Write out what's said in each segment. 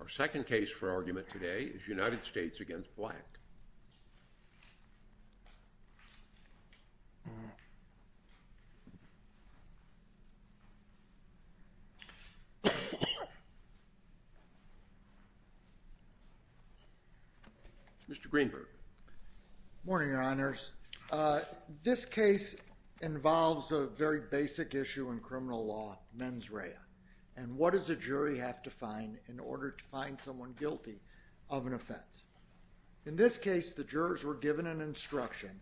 Our second case for argument today is United States v. Black. Mr. Greenberg. Good morning, Your Honors. This case involves a very basic issue in criminal law, mens rea. And what does a jury have to find in order to find someone guilty of an offense? In this case, the jurors were given an instruction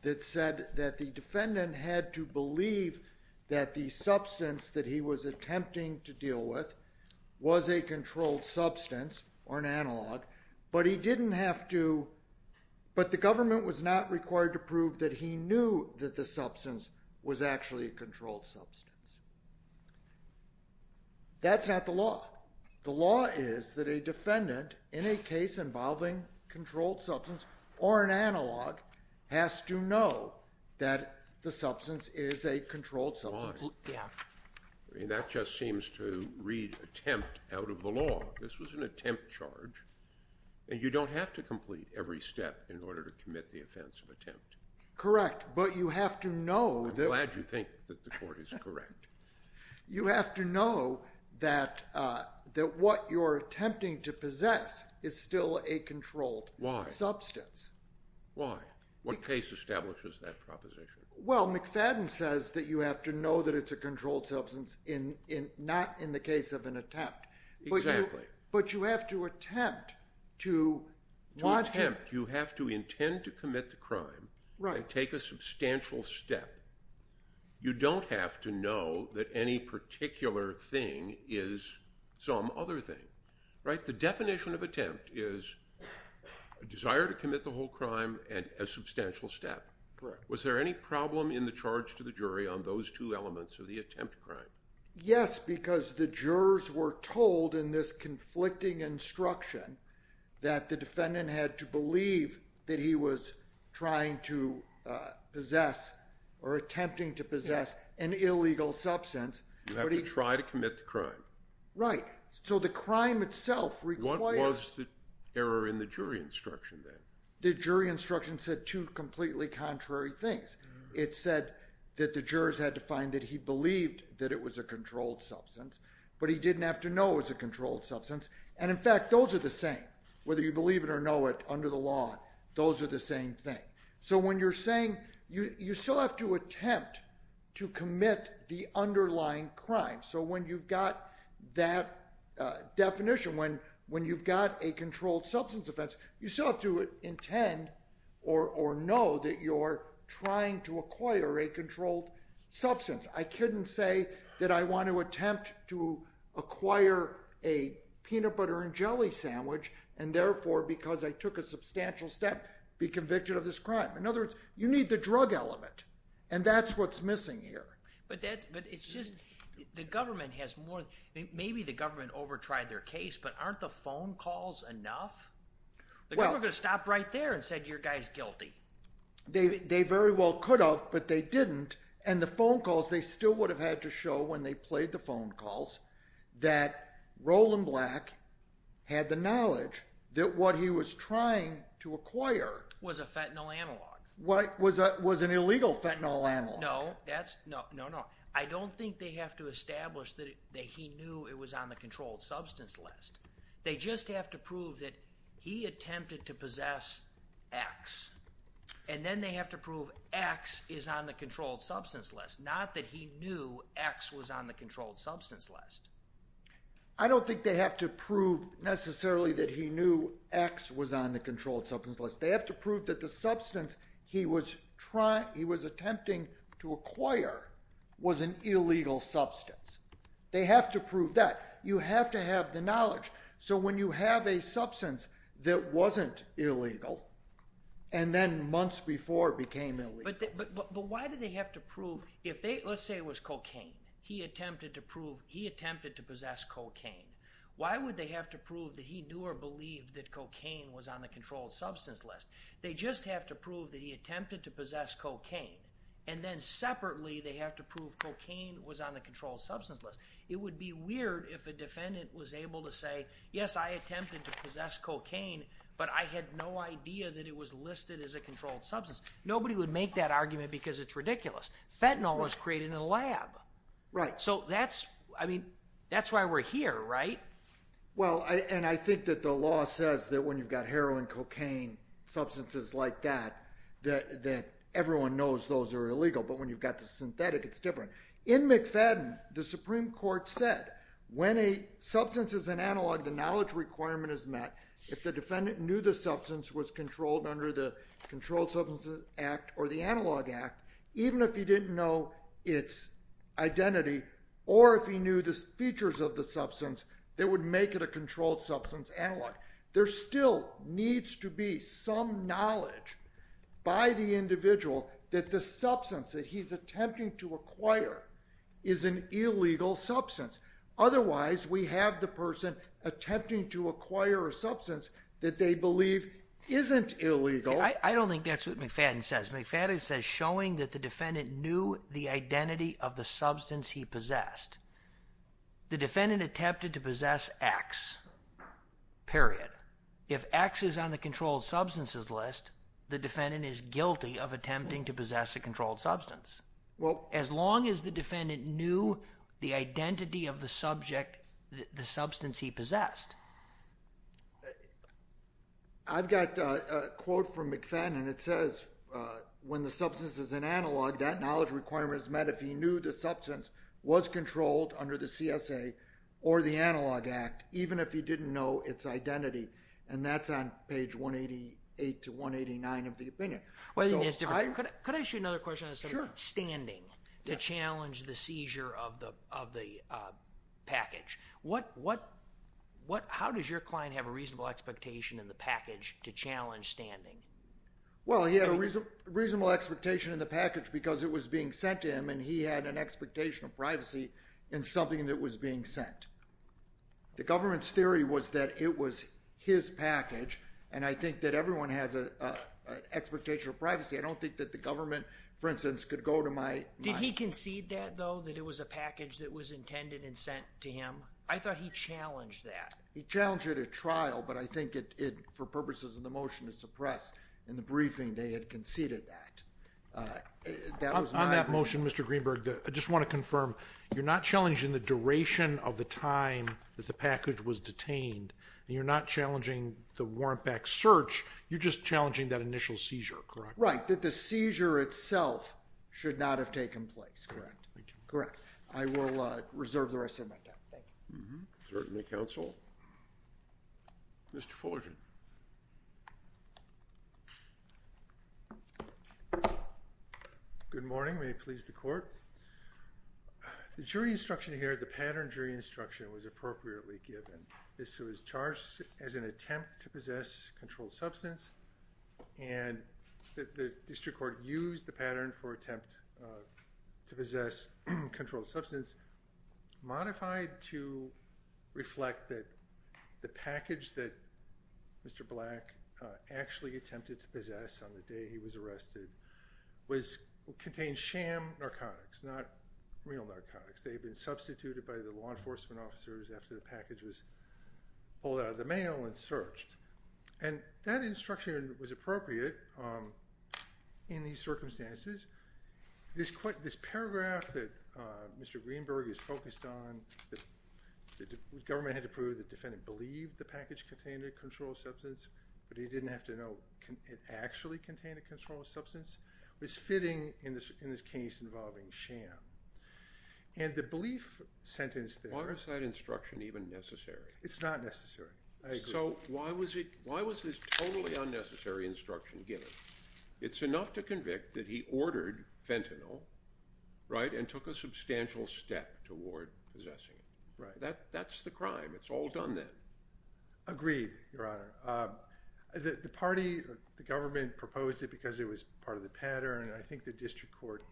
that said that the defendant had to believe that the substance that he was attempting to deal with was a controlled substance or an analog, but the government was not required to prove that he knew that the substance was actually a controlled substance. That's not the law. The law is that a defendant, in a case involving a controlled substance or an analog, has to know that the substance is a controlled substance. That just seems to read attempt out of the law. This was an attempt charge, and you don't have to complete every step in order to commit the offense of attempt. Correct, but you have to know that— I'm glad you think that the court is correct. You have to know that what you're attempting to possess is still a controlled substance. Why? Why? What case establishes that proposition? Well, McFadden says that you have to know that it's a controlled substance, not in the case of an attempt. Exactly. But you have to attempt to— To attempt, you have to intend to commit the crime and take a substantial step. You don't have to know that any particular thing is some other thing. The definition of attempt is a desire to commit the whole crime and a substantial step. Correct. Was there any problem in the charge to the jury on those two elements of the attempt crime? Yes, because the jurors were told in this conflicting instruction that the defendant had to believe that he was trying to possess or attempting to possess an illegal substance. You have to try to commit the crime. Right. So the crime itself requires— What was the error in the jury instruction, then? The jury instruction said two completely contrary things. It said that the jurors had to find that he believed that it was a controlled substance, but he didn't have to know it was a controlled substance. And, in fact, those are the same. Whether you believe it or know it under the law, those are the same thing. So when you're saying—you still have to attempt to commit the underlying crime. So when you've got that definition, when you've got a controlled substance offense, you still have to intend or know that you're trying to acquire a controlled substance. I couldn't say that I want to attempt to acquire a peanut butter and jelly sandwich and, therefore, because I took a substantial step, be convicted of this crime. In other words, you need the drug element, and that's what's missing here. But it's just—the government has more—maybe the government over-tried their case, but aren't the phone calls enough? The government could have stopped right there and said your guy's guilty. They very well could have, but they didn't. And the phone calls, they still would have had to show when they played the phone calls that Roland Black had the knowledge that what he was trying to acquire— Was a fentanyl analog. Was an illegal fentanyl analog. No, that's—no, no, no. I don't think they have to establish that he knew it was on the controlled substance list. They just have to prove that he attempted to possess X. And then they have to prove X is on the controlled substance list, not that he knew X was on the controlled substance list. I don't think they have to prove necessarily that he knew X was on the controlled substance list. They have to prove that the substance he was attempting to acquire was an illegal substance. They have to prove that. You have to have the knowledge. So when you have a substance that wasn't illegal and then months before became illegal— But why do they have to prove if they—let's say it was cocaine. He attempted to prove—he attempted to possess cocaine. Why would they have to prove that he knew or believed that cocaine was on the controlled substance list? They just have to prove that he attempted to possess cocaine. And then separately they have to prove cocaine was on the controlled substance list. It would be weird if a defendant was able to say, Yes, I attempted to possess cocaine, but I had no idea that it was listed as a controlled substance. Nobody would make that argument because it's ridiculous. Fentanyl was created in a lab. Right. So that's—I mean, that's why we're here, right? Well, and I think that the law says that when you've got heroin, cocaine, substances like that, that everyone knows those are illegal. But when you've got the synthetic, it's different. In McFadden, the Supreme Court said when a substance is an analog, the knowledge requirement is met. If the defendant knew the substance was controlled under the Controlled Substances Act or the Analog Act, even if he didn't know its identity or if he knew the features of the substance, they would make it a controlled substance analog. There still needs to be some knowledge by the individual that the substance that he's attempting to acquire is an illegal substance. Otherwise, we have the person attempting to acquire a substance that they believe isn't illegal. I don't think that's what McFadden says. McFadden says showing that the defendant knew the identity of the substance he possessed. The defendant attempted to possess X, period. If X is on the controlled substances list, the defendant is guilty of attempting to possess a controlled substance. Well— As long as the defendant knew the identity of the subject, the substance he possessed. I've got a quote from McFadden. It says when the substance is an analog, that knowledge requirement is met if he knew the substance was controlled under the CSA or the Analog Act, even if he didn't know its identity. That's on page 188 to 189 of the opinion. Could I ask you another question on standing to challenge the seizure of the package? How does your client have a reasonable expectation in the package to challenge standing? Well, he had a reasonable expectation in the package because it was being sent to him and he had an expectation of privacy in something that was being sent. The government's theory was that it was his package and I think that everyone has an expectation of privacy. I don't think that the government, for instance, could go to my— I thought he challenged that. He challenged it at trial, but I think for purposes of the motion to suppress in the briefing, they had conceded that. On that motion, Mr. Greenberg, I just want to confirm, you're not challenging the duration of the time that the package was detained and you're not challenging the warrant back search, you're just challenging that initial seizure, correct? Right, that the seizure itself should not have taken place, correct. I will reserve the rest of my time, thank you. Certainly, counsel. Mr. Fullerton. Good morning, may it please the court. The jury instruction here, the pattern jury instruction was appropriately given. This was charged as an attempt to possess controlled substance and the district court used the pattern for attempt to possess controlled substance, modified to reflect that the package that Mr. Black actually attempted to possess on the day he was arrested contained sham narcotics, not real narcotics. They had been substituted by the law enforcement officers after the package was pulled out of the mail and searched. And that instruction was appropriate in these circumstances. This paragraph that Mr. Greenberg is focused on, the government had to prove the defendant believed the package contained a controlled substance but he didn't have to know it actually contained a controlled substance, was fitting in this case involving sham. And the belief sentence there… Why was that instruction even necessary? It's not necessary, I agree. So why was this totally unnecessary instruction given? It's enough to convict that he ordered fentanyl, right, and took a substantial step toward possessing it. Right. That's the crime. It's all done then. Agreed, Your Honor. The party, the government proposed it because it was part of the pattern and I think the district court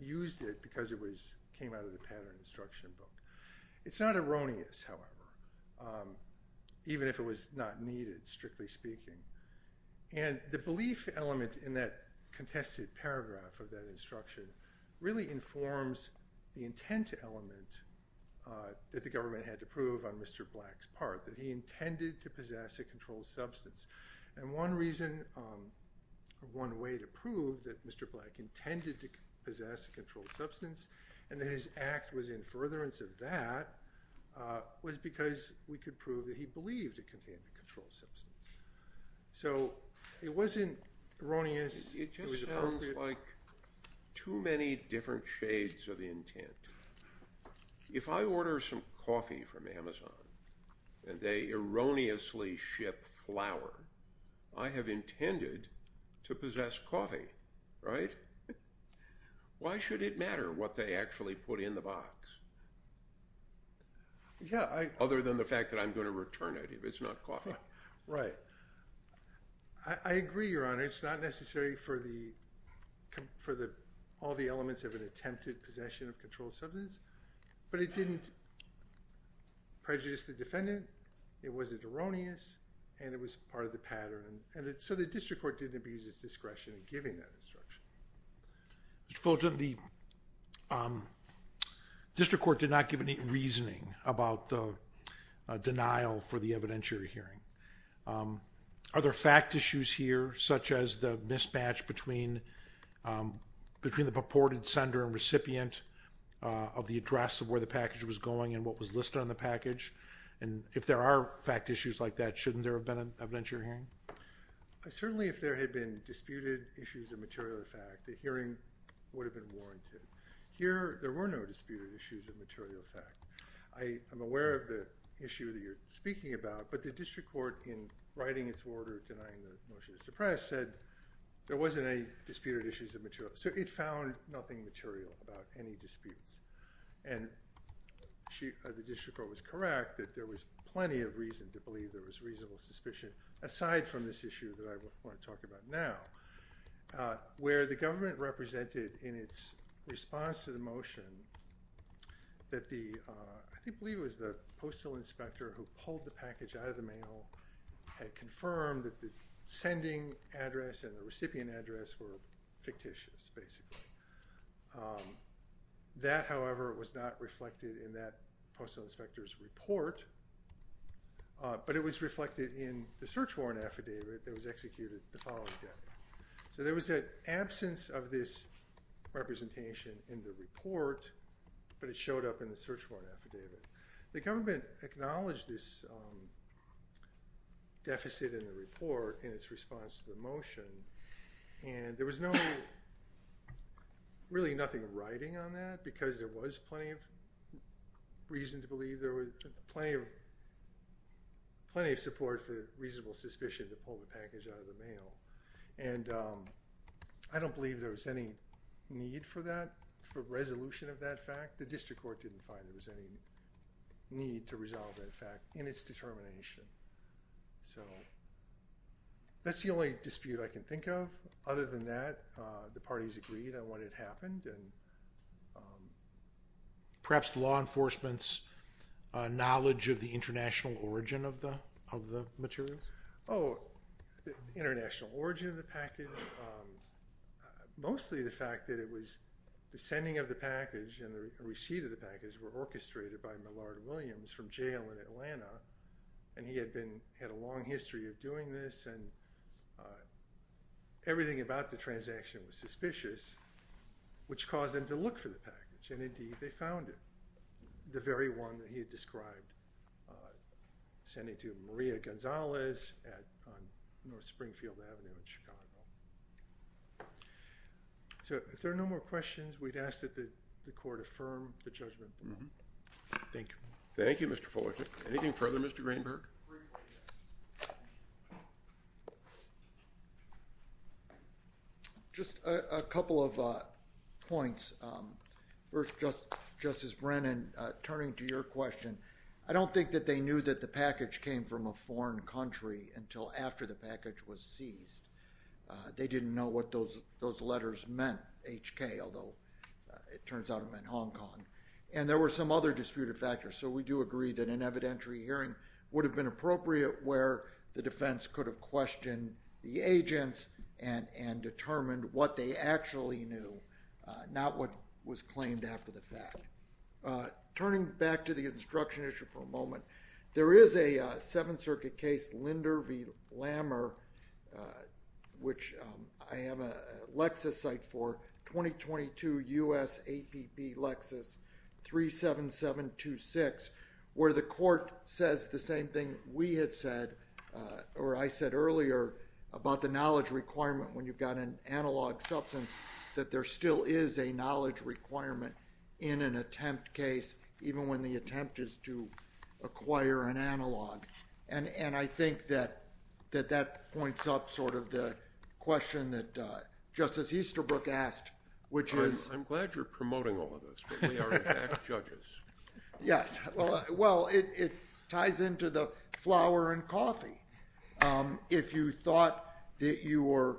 used it because it came out of the pattern instruction book. It's not erroneous, however, even if it was not needed, strictly speaking. And the belief element in that contested paragraph of that instruction really informs the intent element that the government had to prove on Mr. Black's part, that he intended to possess a controlled substance. And one reason or one way to prove that Mr. Black intended to possess a controlled substance and that his act was in furtherance of that was because we could prove that he believed it contained a controlled substance. So it wasn't erroneous. It just sounds like too many different shades of intent. If I order some coffee from Amazon and they erroneously ship flour, I have intended to possess coffee, right? Why should it matter what they actually put in the box? Other than the fact that I'm going to return it if it's not coffee. Right. I agree, Your Honor. It's not necessary for all the elements of an attempted possession of controlled substance, but it didn't prejudice the defendant, it wasn't erroneous, and it was part of the pattern. So the district court didn't abuse its discretion in giving that instruction. Mr. Fulton, the district court did not give any reasoning about the denial for the evidentiary hearing. Are there fact issues here, such as the mismatch between the purported sender and recipient of the address of where the package was going and what was listed on the package? If there are fact issues like that, shouldn't there have been an evidentiary hearing? Certainly, if there had been disputed issues of material fact, the hearing would have been warranted. Here, there were no disputed issues of material fact. I'm aware of the issue that you're speaking about, but the district court, in writing its order denying the motion to suppress, said there wasn't any disputed issues of material fact. So it found nothing material about any disputes. The district court was correct that there was plenty of reason to believe there was reasonable suspicion, aside from this issue that I want to talk about now, where the government represented in its response to the motion that the, I believe it was the postal inspector who pulled the package out of the mail, had confirmed that the sending address and the recipient address were fictitious, basically. That, however, was not reflected in that postal inspector's report, but it was reflected in the search warrant affidavit that was executed the following day. So there was an absence of this representation in the report, but it showed up in the search warrant affidavit. The government acknowledged this deficit in the report in its response to the motion, and there was really nothing writing on that, because there was plenty of support for reasonable suspicion to pull the package out of the mail, and I don't believe there was any need for that, for resolution of that fact. The district court didn't find there was any need to resolve that fact in its determination. So that's the only dispute I can think of. Other than that, the parties agreed on what had happened. Perhaps law enforcement's knowledge of the international origin of the materials? Oh, the international origin of the package, mostly the fact that it was the sending of the package and the receipt of the package and he had a long history of doing this, and everything about the transaction was suspicious, which caused them to look for the package, and indeed they found it, the very one that he had described, sending to Maria Gonzalez on North Springfield Avenue in Chicago. So if there are no more questions, we'd ask that the court affirm the judgment. Thank you. Thank you, Mr. Fullerton. Anything further, Mr. Greenberg? Just a couple of points. First, Justice Brennan, turning to your question, I don't think that they knew that the package came from a foreign country until after the package was seized. They didn't know what those letters meant, HK, although it turns out it meant Hong Kong. And there were some other disputed factors, so we do agree that an evidentiary hearing would have been appropriate where the defense could have questioned the agents and determined what they actually knew, not what was claimed after the fact. Turning back to the instruction issue for a moment, there is a Seventh Circuit case, Linder v. Lammer, which I am a Lexus site for, 2022 U.S. APP Lexus 37726, where the court says the same thing we had said, or I said earlier about the knowledge requirement when you've got an analog substance, that there still is a knowledge requirement in an attempt case, even when the attempt is to acquire an analog. And I think that that points up sort of the question that Justice Easterbrook asked, which is... I'm glad you're promoting all of this, but we are in fact judges. Yes, well, it ties into the flour and coffee. If you thought that you were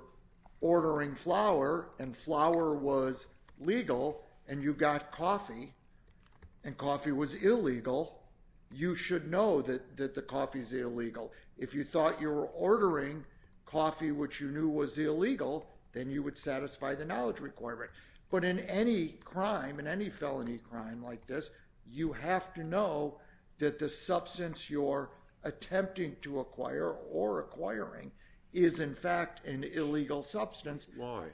ordering flour and flour was legal and you got coffee and coffee was illegal, you should know that the coffee is illegal. If you thought you were ordering coffee, which you knew was illegal, then you would satisfy the knowledge requirement. But in any crime, in any felony crime like this, you have to know that the substance you're attempting to acquire or acquiring is in fact an illegal substance. Why?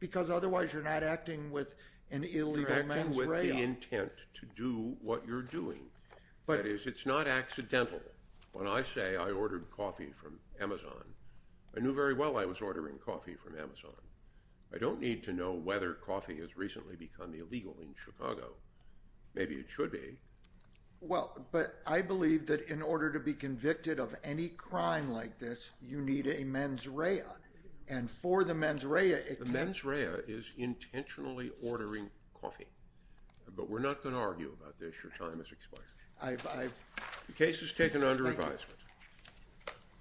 Because otherwise you're not acting with an illegal menstrual. You're acting with the intent to do what you're doing. That is, it's not accidental. When I say I ordered coffee from Amazon, I knew very well I was ordering coffee from Amazon. I don't need to know whether coffee has recently become illegal in Chicago. Maybe it should be. Well, but I believe that in order to be convicted of any crime like this, you need a mens rea. And for the mens rea... The mens rea is intentionally ordering coffee. But we're not going to argue about this. Your time has expired. The case is taken under advisement.